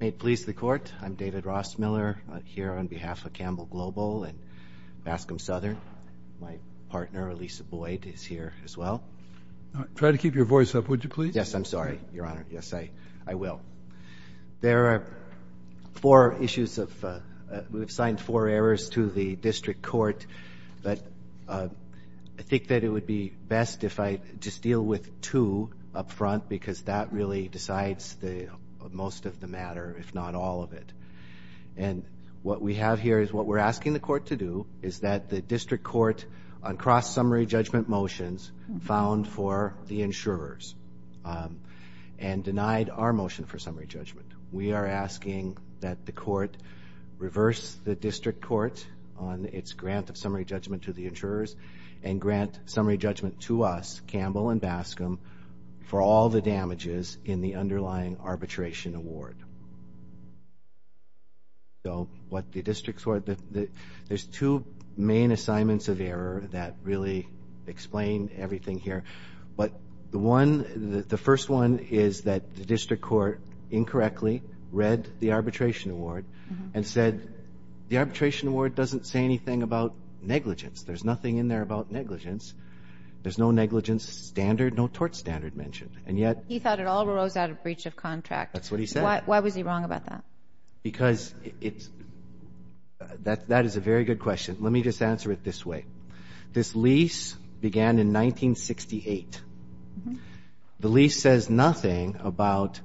May it please the Court, I'm David Ross-Miller here on behalf of Campbell Global and Bascom Southern. My partner, Lisa Boyd, is here as well. Try to keep your voice up, would you please? Yes, I'm sorry, Your Honor, yes, I will. There are four issues of, we've signed four errors to the District Court, but I think that it would be best if I just deal with two up front because that really decides the most of the matter, if not all of it. And what we have here is what we're asking the Court to do is that the District Court on cross-summary judgment motions found for the insurers and denied our motion for summary judgment. We are asking that the Court reverse the District Court on its grant of summary judgment to the insurers and grant summary judgment to us, Campbell and Bascom, for all the damages in the underlying arbitration award. So, what the District Court, there's two main assignments of error that really explain everything here. But the one, the first one is that the District Court incorrectly read the arbitration award and said the arbitration award doesn't say anything about negligence. There's nothing in there about negligence. There's no negligence standard, no tort standard mentioned. And yet— He thought it all arose out of breach of contract. That's what he said. Why was he wrong about that? Because it's, that is a very good question. Let me just answer it this way. This lease began in 1968. The lease says nothing about,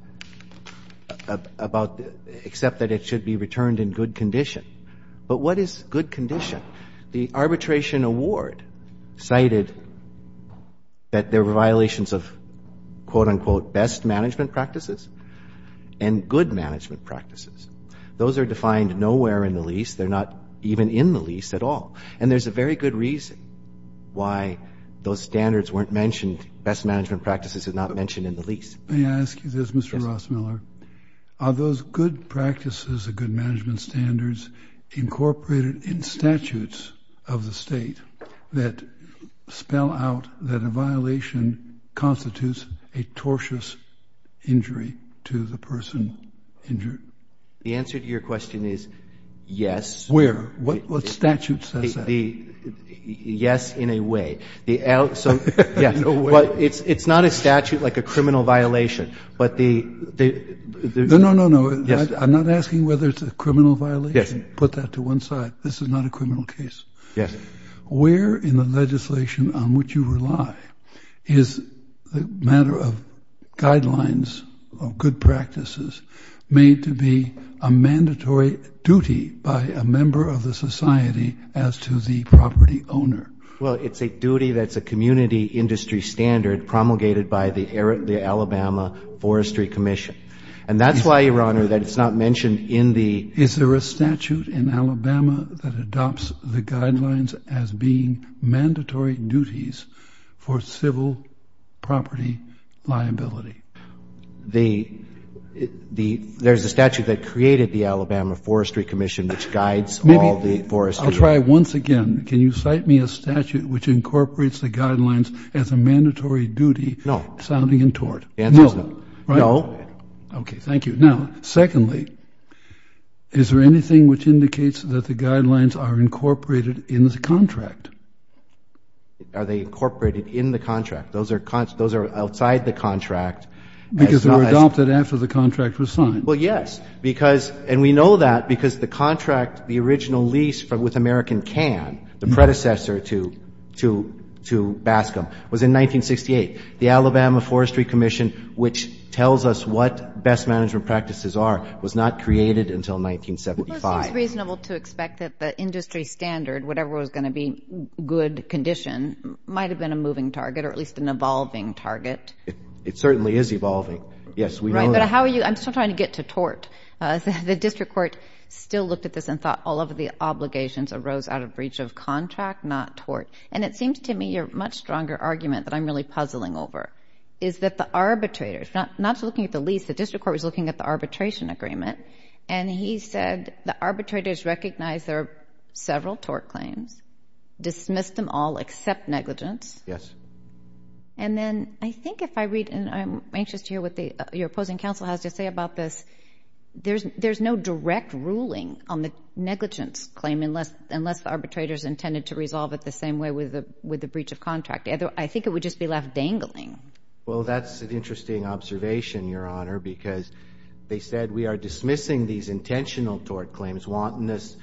except that it should be returned in good condition. But what is good condition? The arbitration award cited that there were violations of, quote-unquote, best management practices and good management practices. Those are defined nowhere in the lease. They're not even in the lease at all. And there's a very good reason why those standards weren't mentioned, best management practices are not mentioned in the lease. Let me ask you this, Mr. Rossmiller. Are those good practices, the good management standards, incorporated in statutes of the state that spell out that a violation constitutes a tortious injury to the person injured? The answer to your question is yes. Where? What statute says that? Yes, in a way. So, yeah, but it's not a statute like a criminal violation. But the... No, no, no, no. Yes. I'm not asking whether it's a criminal violation. Yes. Put that to one side. This is not a criminal case. Yes. Where in the legislation on which you rely is the matter of guidelines of good practices made to be a mandatory duty by a member of the society as to the property owner? Well, it's a duty that's a community industry standard promulgated by the Alabama Forestry Commission. And that's why, Your Honor, that it's not mentioned in the... Is there a statute in Alabama that adopts the guidelines as being mandatory duties for civil property liability? There's a statute that created the Alabama Forestry Commission, which guides all the forestry... I'll try once again. Can you cite me a statute which incorporates the guidelines as a mandatory duty, sounding in tort? No. The answer is no. Right? No. Okay. Thank you. Now, secondly, is there anything which indicates that the guidelines are incorporated in the contract? Are they incorporated in the contract? Those are outside the contract. Because they were adopted after the contract was signed. Well, yes. And we know that because the contract, the original lease with American Can, the predecessor to Bascom, was in 1968. The Alabama Forestry Commission, which tells us what best management practices are, was not created until 1975. Well, it seems reasonable to expect that the industry standard, whatever was going to be good condition, might have been a moving target, or at least an evolving target. It certainly is evolving. Yes, we know that. Right. But how are you, I'm still trying to get to tort. The district court still looked at this and thought all of the obligations arose out of breach of contract, not tort. And it seems to me your much stronger argument that I'm really puzzling over is that the arbitrators, not looking at the lease, the district court was looking at the arbitration agreement, and he said the arbitrators recognized there are several tort claims, dismissed them all except negligence, and then I think if I read, and I'm anxious to hear what your opposing counsel has to say about this, there's no direct ruling on the negligence claim unless the arbitrators intended to resolve it the same way with the breach of contract. I think it would just be left dangling. Well, that's an interesting observation, Your Honor, because they said we are dismissing these intentional tort claims, wantonness,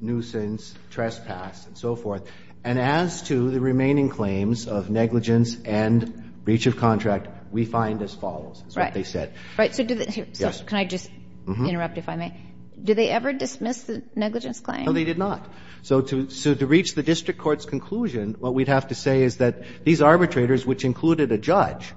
nuisance, trespass, and so forth. And as to the remaining claims of negligence and breach of contract, we find as follows, is what they said. Right. So do the – so can I just interrupt, if I may? Do they ever dismiss the negligence claim? No, they did not. So to reach the district court's conclusion, what we'd have to say is that these arbitrators, which included a judge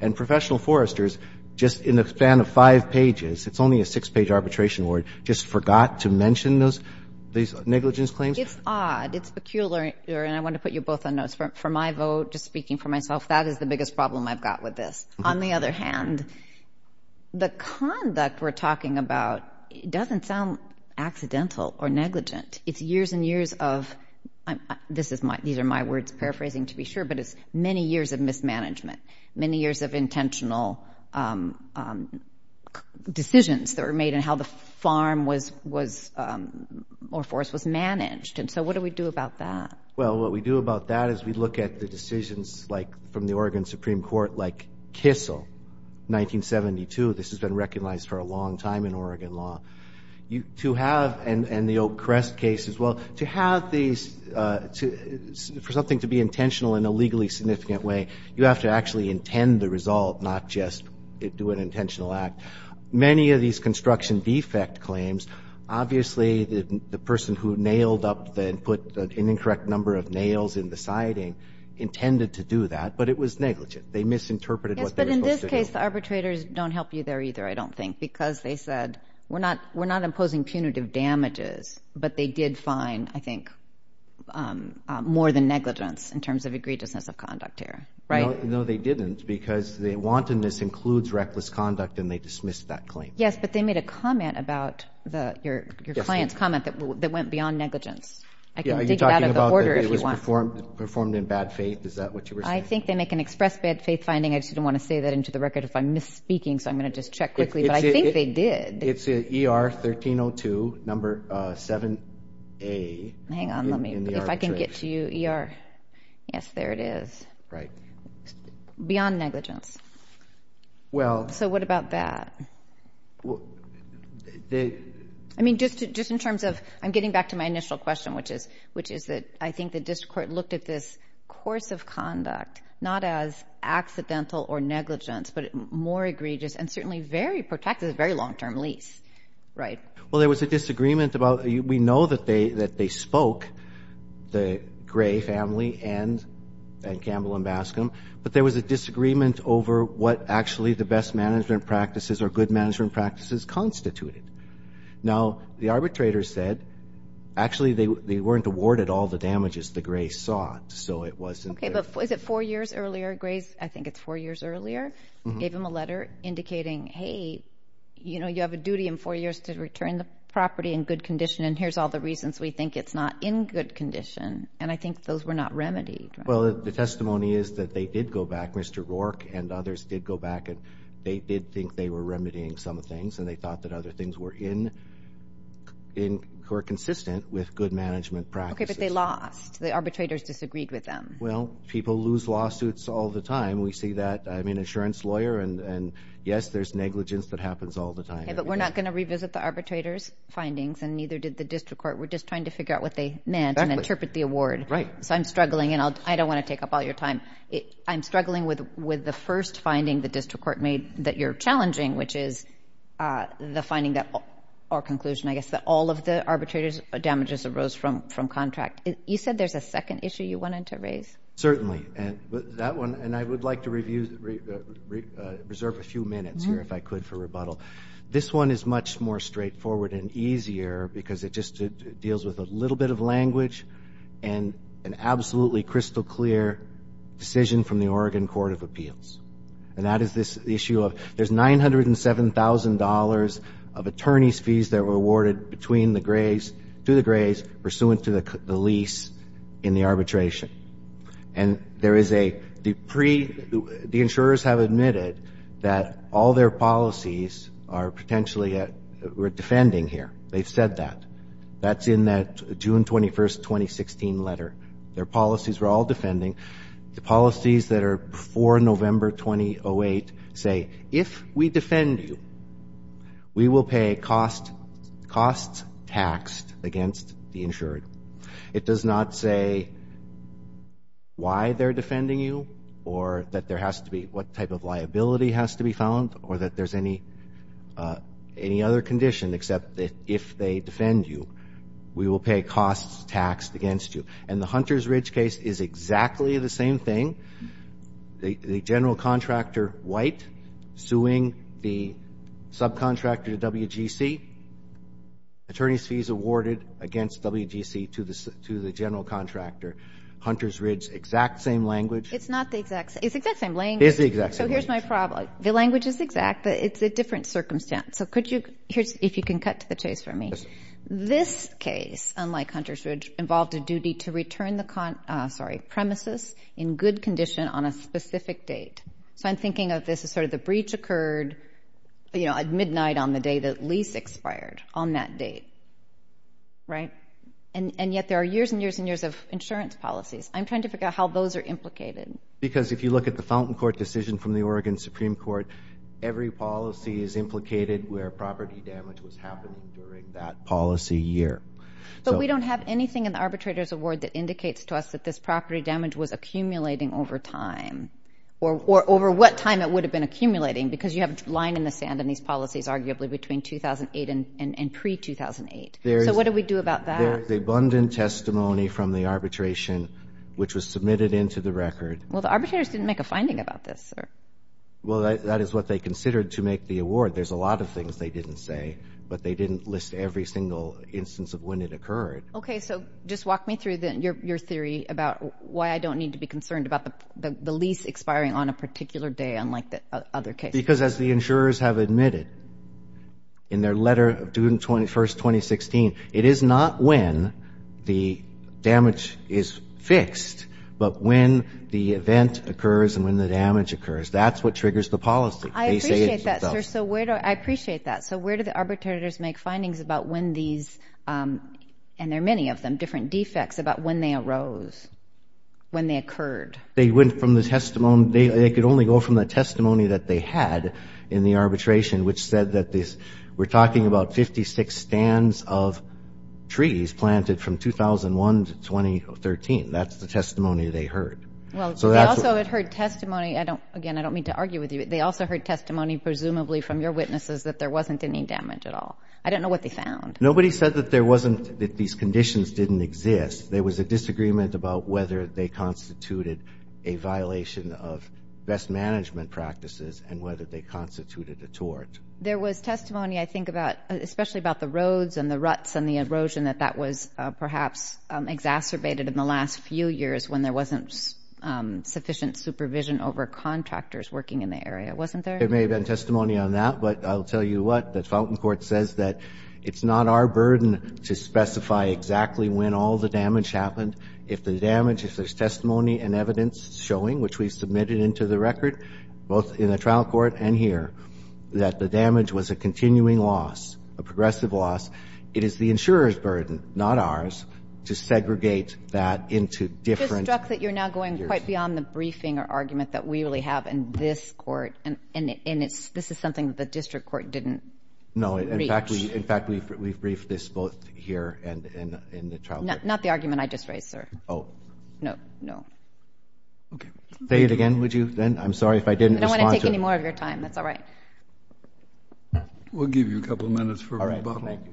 and professional foresters, just in the span of five pages, it's only a six-page arbitration award, just forgot to mention those – these negligence claims. It's odd. It's peculiar. And I want to put you both on notes. For my vote, just speaking for myself, that is the biggest problem I've got with this. On the other hand, the conduct we're talking about doesn't sound accidental or negligent. It's years and years of – this is my – these are my words, paraphrasing, to be sure, but it's many years of mismanagement, many years of intentional decisions that were made and how the farm was – or forest was managed. And so what do we do about that? Well, what we do about that is we look at the decisions, like, from the Oregon Supreme Court, like Kissel, 1972. This has been recognized for a long time in Oregon law. To have – and the Oak Crest case as well – to have these – for something to be intentional in a legally significant way, you have to actually intend the result, not just do an intentional act. Many of these construction defect claims, obviously the person who nailed up the – put an incorrect number of nails in the siding intended to do that, but it was negligent. They misinterpreted what they were supposed to do. Yes, but in this case, the arbitrators don't help you there either, I don't think, because they said, we're not imposing punitive damages, but they did find, I think, more than negligence in terms of egregiousness of conduct here, right? No, they didn't, because the wantonness includes reckless conduct, and they dismissed that claim. Yes, but they made a comment about the – your client's comment that went beyond negligence. Are you talking about that it was performed in bad faith? Is that what you were saying? I think they make an express bad faith finding. I just didn't want to say that into the record if I'm misspeaking, so I'm going to just check quickly, but I think they did. It's ER 1302, number 7A. Hang on, let me – if I can get to you, ER. Yes, there it is. Right. Beyond negligence. Well – So what about that? Well, they – I mean, just in terms of – I'm getting back to my initial question, which is that I think the district court looked at this course of conduct not as accidental or negligence, but more egregious and certainly very protective, very long-term lease, right? Well, there was a disagreement about – we know that they spoke, the Gray family and Campbell and Bascom, but there was a disagreement over what actually the best management practices or good management practices constituted. Now, the arbitrator said actually they weren't awarded all the damages the Gray saw, so it wasn't – Okay, but was it four years earlier? Gray's – I think it's four years earlier. Gave him a letter indicating, hey, you know, you have a duty in four years to return the property in good condition, and here's all the reasons we think it's not in good condition, and I think those were not remedied, right? Well, the testimony is that they did go back, Mr. Rourke and others did go back, and they did think they were remedying some things, and they thought that other things were in – were consistent with good management practices. Okay, but they lost. The arbitrators disagreed with them. Well, people lose lawsuits all the time. We see that. I'm an insurance lawyer, and yes, there's negligence that happens all the time. Okay, but we're not going to revisit the arbitrator's findings, and neither did the district court. We're just trying to figure out what they meant and interpret the award. Right. So I'm struggling, and I don't want to take up all your time. I'm struggling with the first finding the district court made that you're challenging, which is the finding that – or conclusion, I guess, that all of the arbitrators' damages arose from contract. You said there's a second issue you wanted to raise? Certainly, and that one – and I would like to review – reserve a few minutes here, if I could, for rebuttal. This one is much more straightforward and easier because it just deals with a little bit of language and an absolutely crystal-clear decision from the Oregon Court of Appeals. And that is this issue of – there's $907,000 of attorney's fees that were awarded between the Grays – to the Grays pursuant to the lease in the arbitration. And there is a – the pre – the insurers have admitted that all their policies are potentially – we're defending here. They've said that. That's in that June 21st, 2016 letter. Their policies were all defending. The policies that are before November 2008 say, if we defend you, we will pay costs taxed against the insured. It does not say why they're defending you or that there has to be – what type of liability has to be found or that there's any other condition except that if they defend you, we will pay costs taxed against you. And the Hunter's Ridge case is exactly the same thing. The general contractor, White, suing the subcontractor to WGC, attorney's fees awarded against WGC to the general contractor. Hunter's Ridge, exact same language. It's not the exact – it's the exact same language. It is the exact same language. So here's my problem. The language is exact, but it's a different circumstance. So could you – here's – if you can cut to the chase for me. Yes, ma'am. This case, unlike Hunter's Ridge, involved a duty to return the – sorry – premises in good condition on a specific date. So I'm thinking of this as sort of the breach occurred, you know, at midnight on the day the lease expired on that date, right? And yet there are years and years and years of insurance policies. I'm trying to figure out how those are implicated. Because if you look at the Fountain Court decision from the Oregon Supreme Court, every policy is implicated where property damage was happening during that policy year. But we don't have anything in the arbitrator's award that indicates to us that this property damage was accumulating over time or over what time it would have been accumulating because you have a line in the sand on these policies arguably between 2008 and pre-2008. So what do we do about that? There is abundant testimony from the arbitration which was submitted into the record. Well, the arbitrators didn't make a finding about this, sir. Well, that is what they considered to make the award. There's a lot of things they didn't say, but they didn't list every single instance of when it occurred. Okay, so just walk me through your theory about why I don't need to be concerned about the lease expiring on a particular day unlike the other cases. Because as the insurers have admitted in their letter of June 21, 2016, it is not when the damage is fixed, but when the event occurs and when the damage occurs. That's what triggers the policy. I appreciate that, sir. I appreciate that. So where do the arbitrators make findings about when these, and there are many of them, different defects about when they arose, when they occurred? They went from the testimony, they could only go from the testimony that they had in the arbitration which said that this, we're talking about 56 stands of trees planted from 2001 to 2013. That's the testimony they heard. Well, they also had heard testimony, again, I don't mean to argue with you, but they also heard testimony presumably from your witnesses that there wasn't any damage at all. I don't know what they found. Nobody said that there wasn't, that these conditions didn't exist. There was a disagreement about whether they constituted a violation of best management practices and whether they constituted a tort. There was testimony, I think, especially about the roads and the ruts and the erosion, that that was perhaps exacerbated in the last few years when there wasn't sufficient supervision over contractors working in the area, wasn't there? There may have been testimony on that, but I'll tell you what, that it's not our burden to specify exactly when all the damage happened. If the damage, if there's testimony and evidence showing, which we've submitted into the record, both in the trial court and here, that the damage was a continuing loss, a progressive loss, it is the insurer's burden, not ours, to segregate that into different years. I'm just struck that you're now going quite beyond the briefing or argument that we really have in this court, and this is something that the district court didn't reach. No, in fact, we've briefed this both here and in the trial court. Not the argument I just raised, sir. Oh. No. Okay. Say it again, would you, then? I'm sorry if I didn't respond to it. I don't want to take any more of your time. That's all right. We'll give you a couple minutes for rebuttal. All right. Thank you.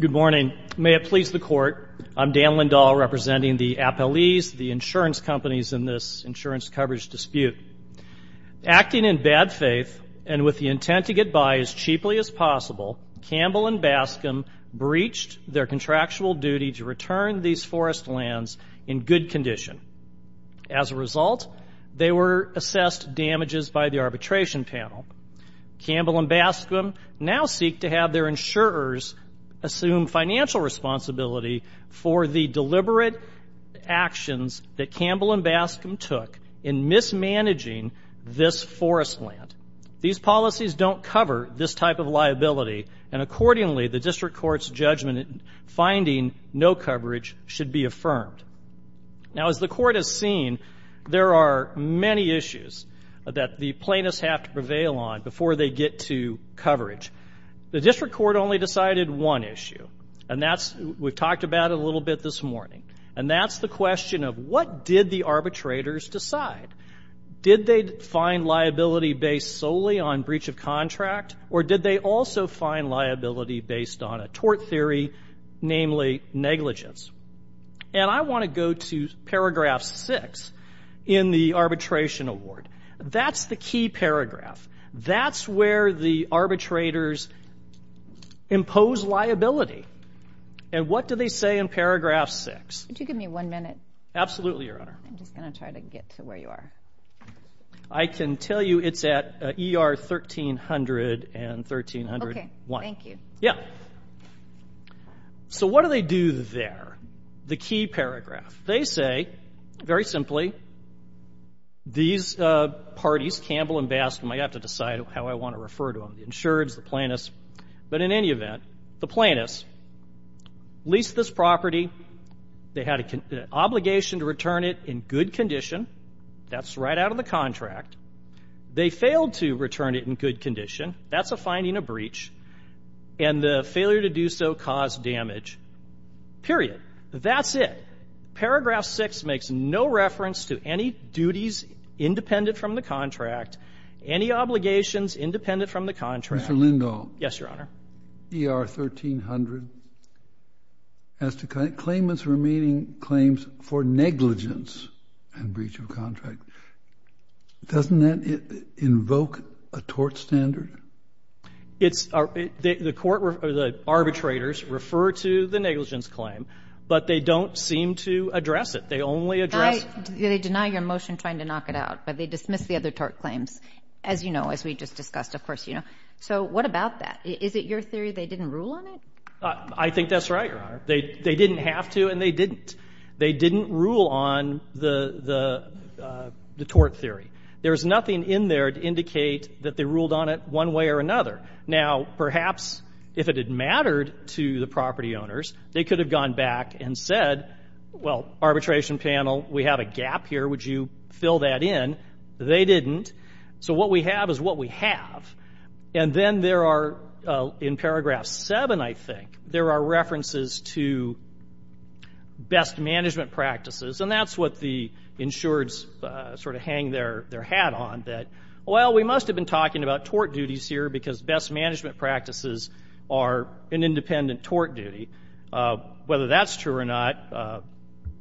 Good morning. May it please the court, I'm Dan Lindahl, representing the appellees, the insurance companies in this insurance coverage dispute. Acting in bad faith and with the intent to get by as cheaply as possible, Campbell and Bascom breached their contractual duty to return these forest lands in good condition. As a result, they were assessed damages by the arbitration panel. Campbell and Bascom now seek to have their insurers assume financial responsibility for the deliberate actions that Campbell and Bascom took in mismanaging this forest land. These policies don't cover this type of liability, and accordingly the district court's judgment in finding no coverage should be affirmed. Now, as the court has seen, there are many issues that the plaintiffs have to prevail on before they get to coverage. The district court only decided one issue, and that's, we've talked about it a little bit this morning, and that's the question of what did the arbitrators decide? Did they find liability based solely on breach of contract, or did they also find liability based on a tort theory, namely negligence? And I want to go to paragraph 6 in the arbitration award. That's the key paragraph. That's where the arbitrators impose liability, and what do they say in paragraph 6? Could you give me one minute? Absolutely, Your Honor. I'm just going to try to get to where you are. I can tell you it's at ER 1300 and 1301. Okay, thank you. Yeah. So what do they do there? The key paragraph. They say, very simply, these parties, Campbell and Bascom, I have to decide how I want to refer to them, the insureds, the plaintiffs. But in any event, the plaintiffs leased this property. They had an obligation to return it in good condition. That's right out of the contract. That's a finding of breach. And the failure to do so caused damage, period. That's it. Paragraph 6 makes no reference to any duties independent from the contract, any obligations independent from the contract. Mr. Lindahl. Yes, Your Honor. ER 1300 has to claim its remaining claims for negligence and breach of contract. Doesn't that invoke a tort standard? The arbitrators refer to the negligence claim, but they don't seem to address it. They only address it. They deny your motion trying to knock it out, but they dismiss the other tort claims, as you know, as we just discussed, of course you know. So what about that? Is it your theory they didn't rule on it? I think that's right, Your Honor. They didn't have to and they didn't. They didn't rule on the tort theory. There's nothing in there to indicate that they ruled on it one way or another. Now, perhaps if it had mattered to the property owners, they could have gone back and said, well, arbitration panel, we have a gap here. Would you fill that in? They didn't. So what we have is what we have. And then there are, in paragraph 7, I think, there are references to best management practices, and that's what the insureds sort of hang their hat on, that, well, we must have been talking about tort duties here because best management practices are an independent tort duty. Whether that's true or not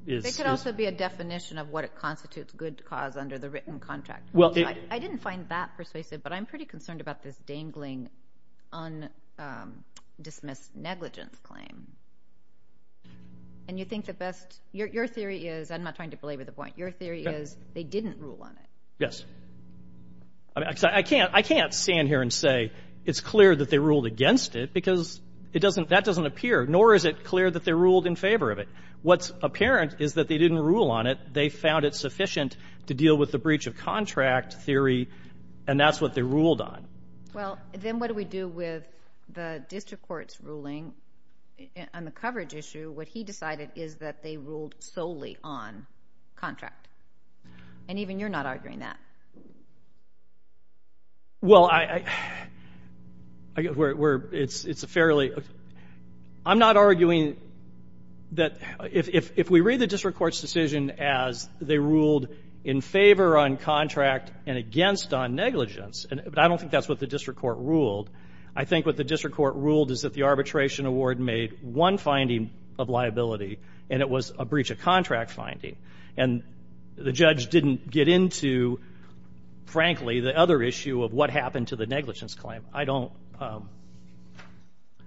is. It could also be a definition of what constitutes good cause under the written contract. I didn't find that persuasive, but I'm pretty concerned about this dangling undismissed negligence claim. And you think the best, your theory is, I'm not trying to belabor the point, your theory is they didn't rule on it. Yes. I can't stand here and say it's clear that they ruled against it because that doesn't appear, nor is it clear that they ruled in favor of it. What's apparent is that they didn't rule on it. They found it sufficient to deal with the breach of contract theory, and that's what they ruled on. Well, then what do we do with the district court's ruling on the coverage issue? What he decided is that they ruled solely on contract. And even you're not arguing that. Well, it's a fairly, I'm not arguing that if we read the district court's decision as they ruled in favor on contract and against on negligence, but I don't think that's what the district court ruled. I think what the district court ruled is that the arbitration award made one finding of liability, and it was a breach of contract finding. And the judge didn't get into, frankly, the other issue of what happened to the negligence claim. I don't,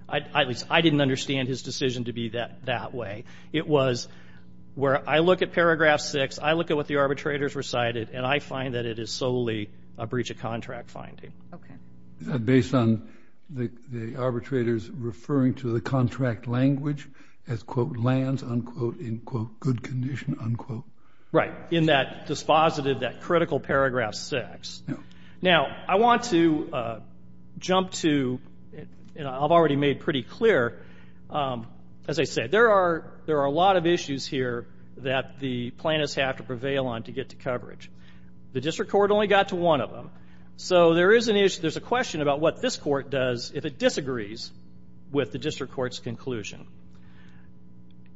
at least I didn't understand his decision to be that way. It was where I look at paragraph six, I look at what the arbitrators recited, and I find that it is solely a breach of contract finding. Okay. Based on the arbitrators referring to the contract language as, quote, lands, unquote, in, quote, good condition, unquote. Right. In that dispositive, that critical paragraph six. Now, I want to jump to, and I've already made pretty clear, as I said, there are a lot of issues here that the plaintiffs have to prevail on to get to coverage. The district court only got to one of them. So there is a question about what this court does if it disagrees with the district court's conclusion.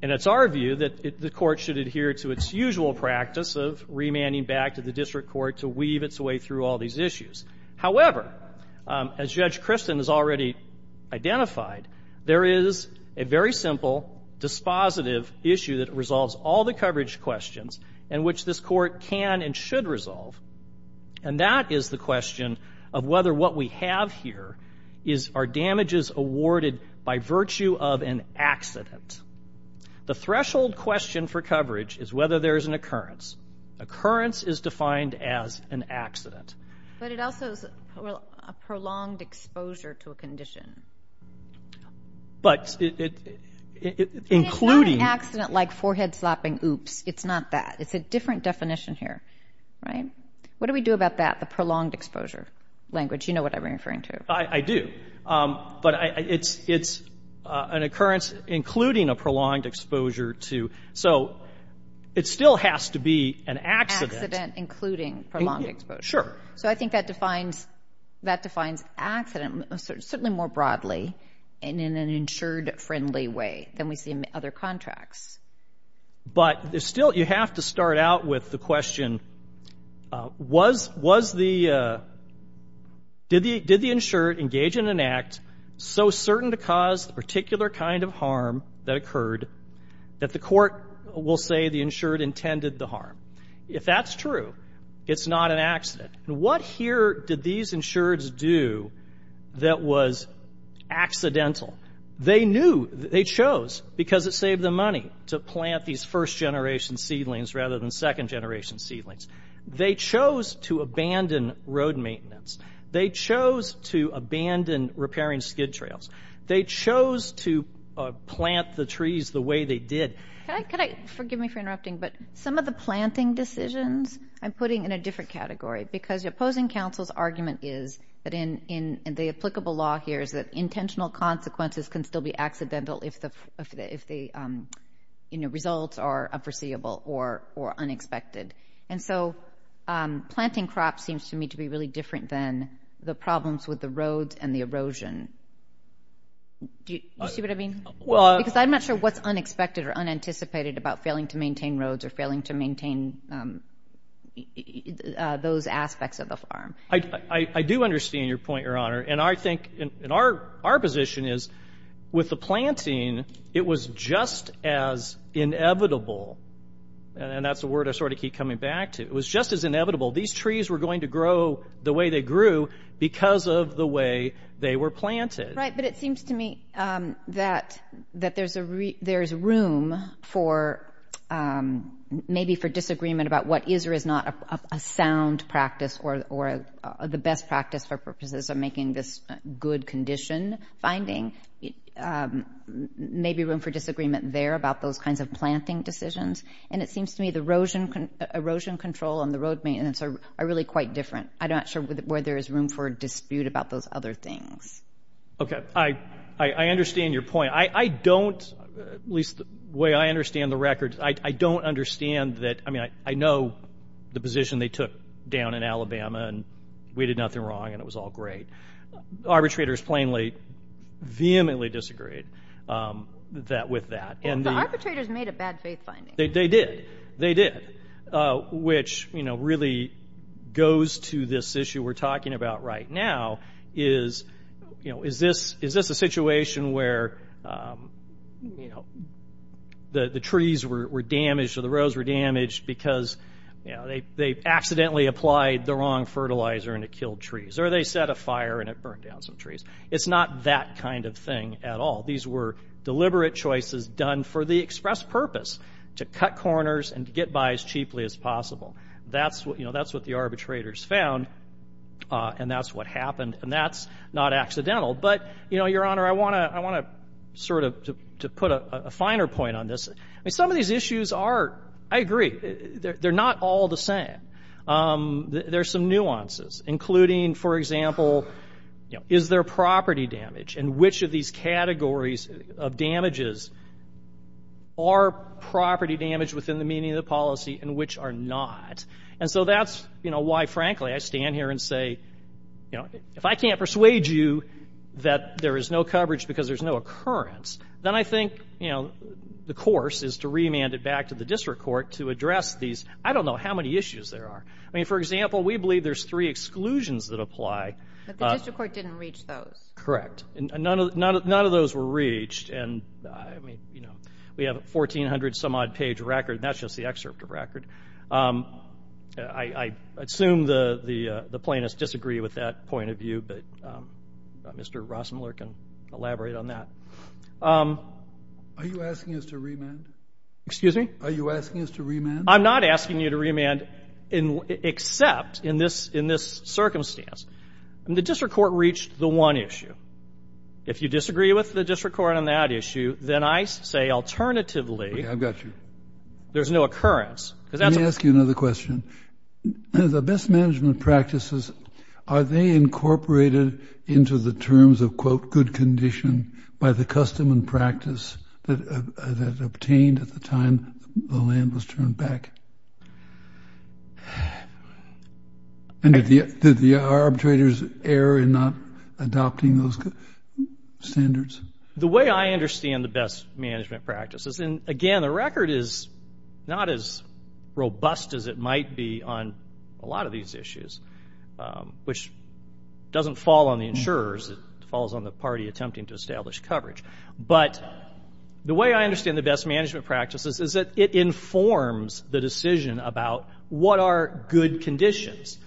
And it's our view that the court should adhere to its usual practice of remanding back to the district court to weave its way through all these issues. However, as Judge Kristen has already identified, there is a very simple dispositive issue that resolves all the coverage questions, and which this court can and should resolve. And that is the question of whether what we have here is our damages awarded by virtue of an accident. The threshold question for coverage is whether there is an occurrence. Occurrence is defined as an accident. But it also is a prolonged exposure to a condition. But it, including. And it's not an accident like forehead-slapping oops. It's not that. It's a different definition here. Right? What do we do about that, the prolonged exposure language? You know what I'm referring to. I do. But it's an occurrence including a prolonged exposure to. So it still has to be an accident. Accident including prolonged exposure. Sure. So I think that defines accident certainly more broadly and in an insured-friendly way than we see in other contracts. But still you have to start out with the question, did the insured engage in an act so certain to cause the particular kind of harm that occurred If that's true, it's not an accident. And what here did these insureds do that was accidental? They knew. They chose because it saved them money to plant these first-generation seedlings rather than second-generation seedlings. They chose to abandon road maintenance. They chose to abandon repairing skid trails. They chose to plant the trees the way they did. Forgive me for interrupting, but some of the planting decisions I'm putting in a different category because the opposing counsel's argument is that in the applicable law here is that intentional consequences can still be accidental if the results are unforeseeable or unexpected. And so planting crops seems to me to be really different than the problems with the roads and the erosion. Do you see what I mean? Because I'm not sure what's unexpected or unanticipated about failing to maintain roads or failing to maintain those aspects of the farm. I do understand your point, Your Honor. And I think our position is with the planting, it was just as inevitable, and that's the word I sort of keep coming back to. It was just as inevitable. These trees were going to grow the way they grew because of the way they were planted. Right, but it seems to me that there's room for maybe for disagreement about what is or is not a sound practice or the best practice for purposes of making this good condition finding. Maybe room for disagreement there about those kinds of planting decisions. And it seems to me the erosion control and the road maintenance are really quite different. I'm not sure where there is room for dispute about those other things. Okay. I understand your point. I don't, at least the way I understand the record, I don't understand that. I mean, I know the position they took down in Alabama, and we did nothing wrong and it was all great. Arbitrators plainly vehemently disagreed with that. The arbitrators made a bad faith finding. They did. Which, you know, really goes to this issue we're talking about right now is, you know, is this a situation where, you know, the trees were damaged or the roads were damaged because, you know, they accidentally applied the wrong fertilizer and it killed trees, or they set a fire and it burned down some trees. It's not that kind of thing at all. These were deliberate choices done for the express purpose, to cut corners and to get by as cheaply as possible. That's what the arbitrators found, and that's what happened, and that's not accidental. But, you know, Your Honor, I want to sort of put a finer point on this. Some of these issues are, I agree, they're not all the same. There's some nuances, including, for example, is there property damage and which of these categories of damages are property damage within the meaning of the policy and which are not. And so that's, you know, why, frankly, I stand here and say, you know, if I can't persuade you that there is no coverage because there's no occurrence, then I think, you know, the course is to remand it back to the district court to address these I don't know how many issues there are. I mean, for example, we believe there's three exclusions that apply. But the district court didn't reach those. Correct. And none of those were reached. And, I mean, you know, we have a 1,400-some-odd-page record, and that's just the excerpt of record. I assume the plaintiffs disagree with that point of view, but Mr. Rossmuller can elaborate on that. Are you asking us to remand? Excuse me? Are you asking us to remand? I'm not asking you to remand except in this circumstance. I mean, the district court reached the one issue. If you disagree with the district court on that issue, then I say alternatively. Okay, I've got you. There's no occurrence. Let me ask you another question. The best management practices, are they incorporated into the terms of, quote, good condition by the custom and practice that obtained at the time the land was turned back? Did the arbitrators err in not adopting those standards? The way I understand the best management practices, and, again, the record is not as robust as it might be on a lot of these issues, which doesn't fall on the insurers. It falls on the party attempting to establish coverage. But the way I understand the best management practices is that it informs the decision about what are good conditions.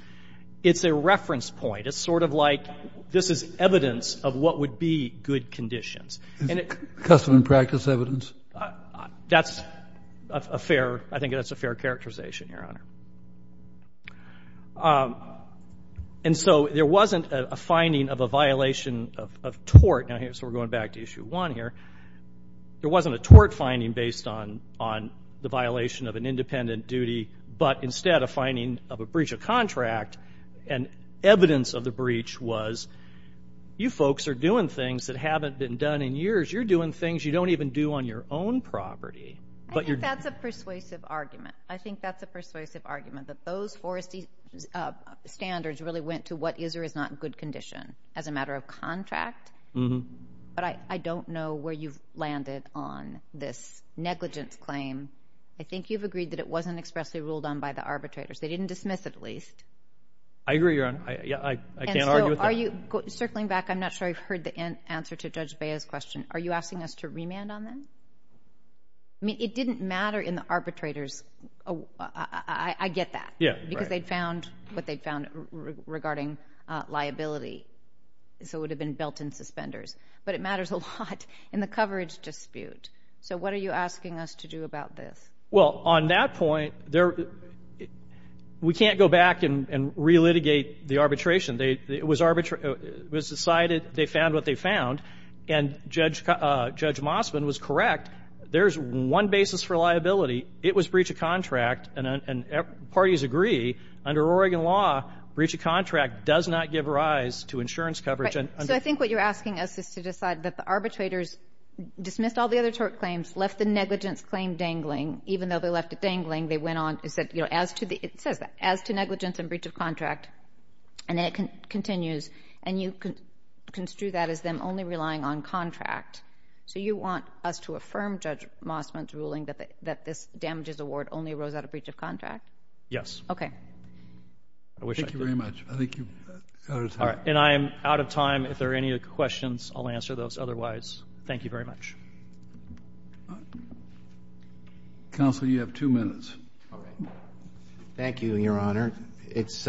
It's a reference point. It's sort of like this is evidence of what would be good conditions. Is custom and practice evidence? That's a fair, I think that's a fair characterization, Your Honor. And so there wasn't a finding of a violation of tort. So we're going back to issue one here. There wasn't a tort finding based on the violation of an independent duty, but instead a finding of a breach of contract, and evidence of the breach was you folks are doing things that haven't been done in years. You're doing things you don't even do on your own property. I think that's a persuasive argument. I think that's a persuasive argument, that those forest standards really went to what is or is not good condition as a matter of contract. But I don't know where you've landed on this negligence claim. I think you've agreed that it wasn't expressly ruled on by the arbitrators. They didn't dismiss it at least. I agree, Your Honor. I can't argue with that. Circling back, I'm not sure I've heard the answer to Judge Bea's question. Are you asking us to remand on them? It didn't matter in the arbitrators. I get that because they'd found what they'd found regarding liability. So it would have been built in suspenders. But it matters a lot in the coverage dispute. So what are you asking us to do about this? Well, on that point, we can't go back and re-litigate the arbitration. It was decided they found what they found, and Judge Mossman was correct. There's one basis for liability. It was breach of contract, and parties agree. Under Oregon law, breach of contract does not give rise to insurance coverage. So I think what you're asking us is to decide that the arbitrators dismissed all the other tort claims, left the negligence claim dangling, even though they left it dangling. It says, as to negligence and breach of contract, and then it continues. And you construe that as them only relying on contract. So you want us to affirm Judge Mossman's ruling that this damages award only arose out of breach of contract? Yes. Okay. Thank you very much. I think you're out of time. And I am out of time. If there are any questions, I'll answer those. Otherwise, thank you very much. Counsel, you have two minutes. Thank you, Your Honor. It's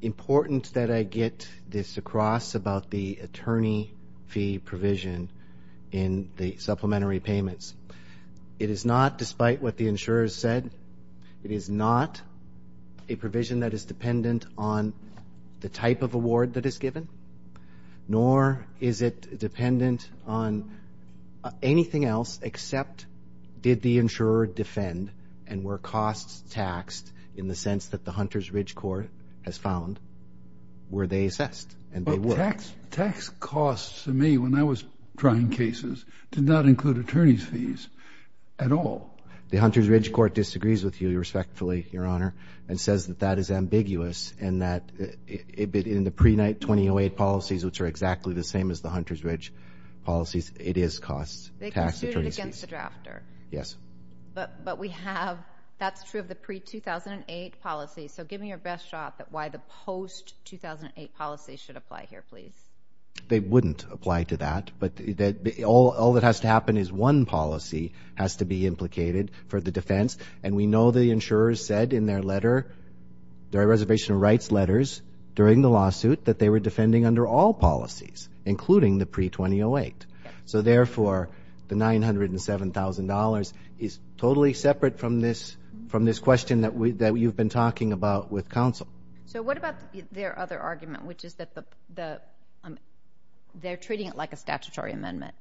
important that I get this across about the attorney fee provision in the supplementary payments. It is not, despite what the insurers said, it is not a provision that is dependent on the type of award that is given, nor is it dependent on anything else except did the insurer defend and were costs taxed in the sense that the Hunter's Ridge Court has found were they assessed, and they were. Tax costs to me when I was trying cases did not include attorney's fees at all. The Hunter's Ridge Court disagrees with you respectfully, Your Honor, and says that that is ambiguous and that in the pre-night 2008 policies, which are exactly the same as the Hunter's Ridge policies, it is costs tax attorney's fees. They consumed it against the drafter. Yes. But we have, that's true of the pre-2008 policies. So give me your best shot at why the post-2008 policy should apply here, please. They wouldn't apply to that, but all that has to happen is one policy has to be implicated for the defense, and we know the insurers said in their letter, their reservation of rights letters during the lawsuit that they were defending under all policies, including the pre-2008. So, therefore, the $907,000 is totally separate from this question that you've been talking about with counsel. So what about their other argument, which is that they're treating it like a statutory amendment,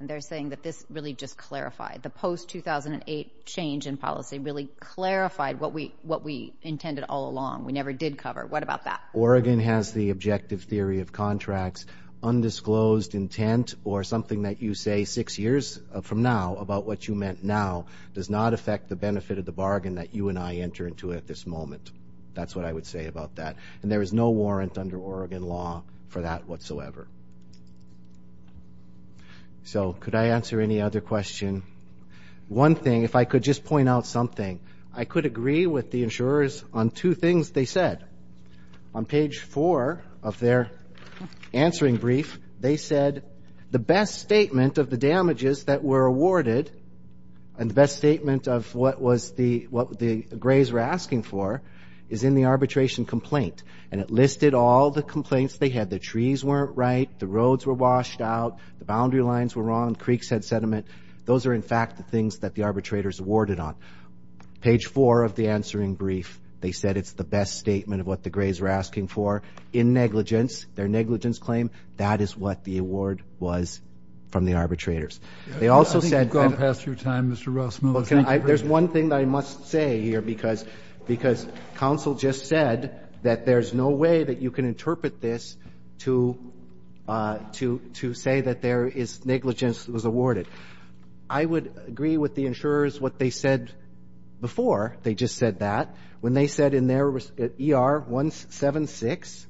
and they're saying that this really just clarified, the post-2008 change in policy really clarified what we intended all along. We never did cover. What about that? Oregon has the objective theory of contracts. Undisclosed intent or something that you say six years from now about what you meant now does not affect the benefit of the bargain that you and I enter into at this moment. That's what I would say about that. And there is no warrant under Oregon law for that whatsoever. So could I answer any other question? One thing, if I could just point out something, I could agree with the insurers on two things they said. On page four of their answering brief, they said the best statement of the damages that were awarded and the best statement of what the Grays were asking for is in the arbitration complaint, and it listed all the complaints they had. The trees weren't right. The roads were washed out. The boundary lines were wrong. The creeks had sediment. Those are, in fact, the things that the arbitrators awarded on. Page four of the answering brief, they said it's the best statement of what the Grays were asking for in negligence. Their negligence claim, that is what the award was from the arbitrators. I think you've gone past your time, Mr. Rasmussen. There's one thing that I must say here, because counsel just said that there's no way that you can interpret this to say that negligence was awarded. I would agree with the insurers what they said before. They just said that. When they said in their ER 176,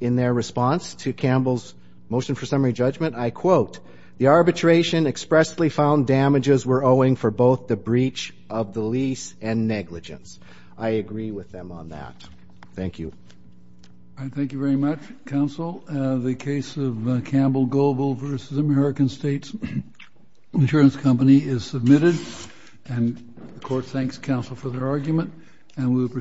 in their response to Campbell's motion for summary judgment, I quote, the arbitration expressly found damages were owing for both the breach of the lease and negligence. I agree with them on that. Thank you. Thank you very much, counsel. The case of Campbell Goebel v. American States Insurance Company is submitted, and the court thanks counsel for their argument.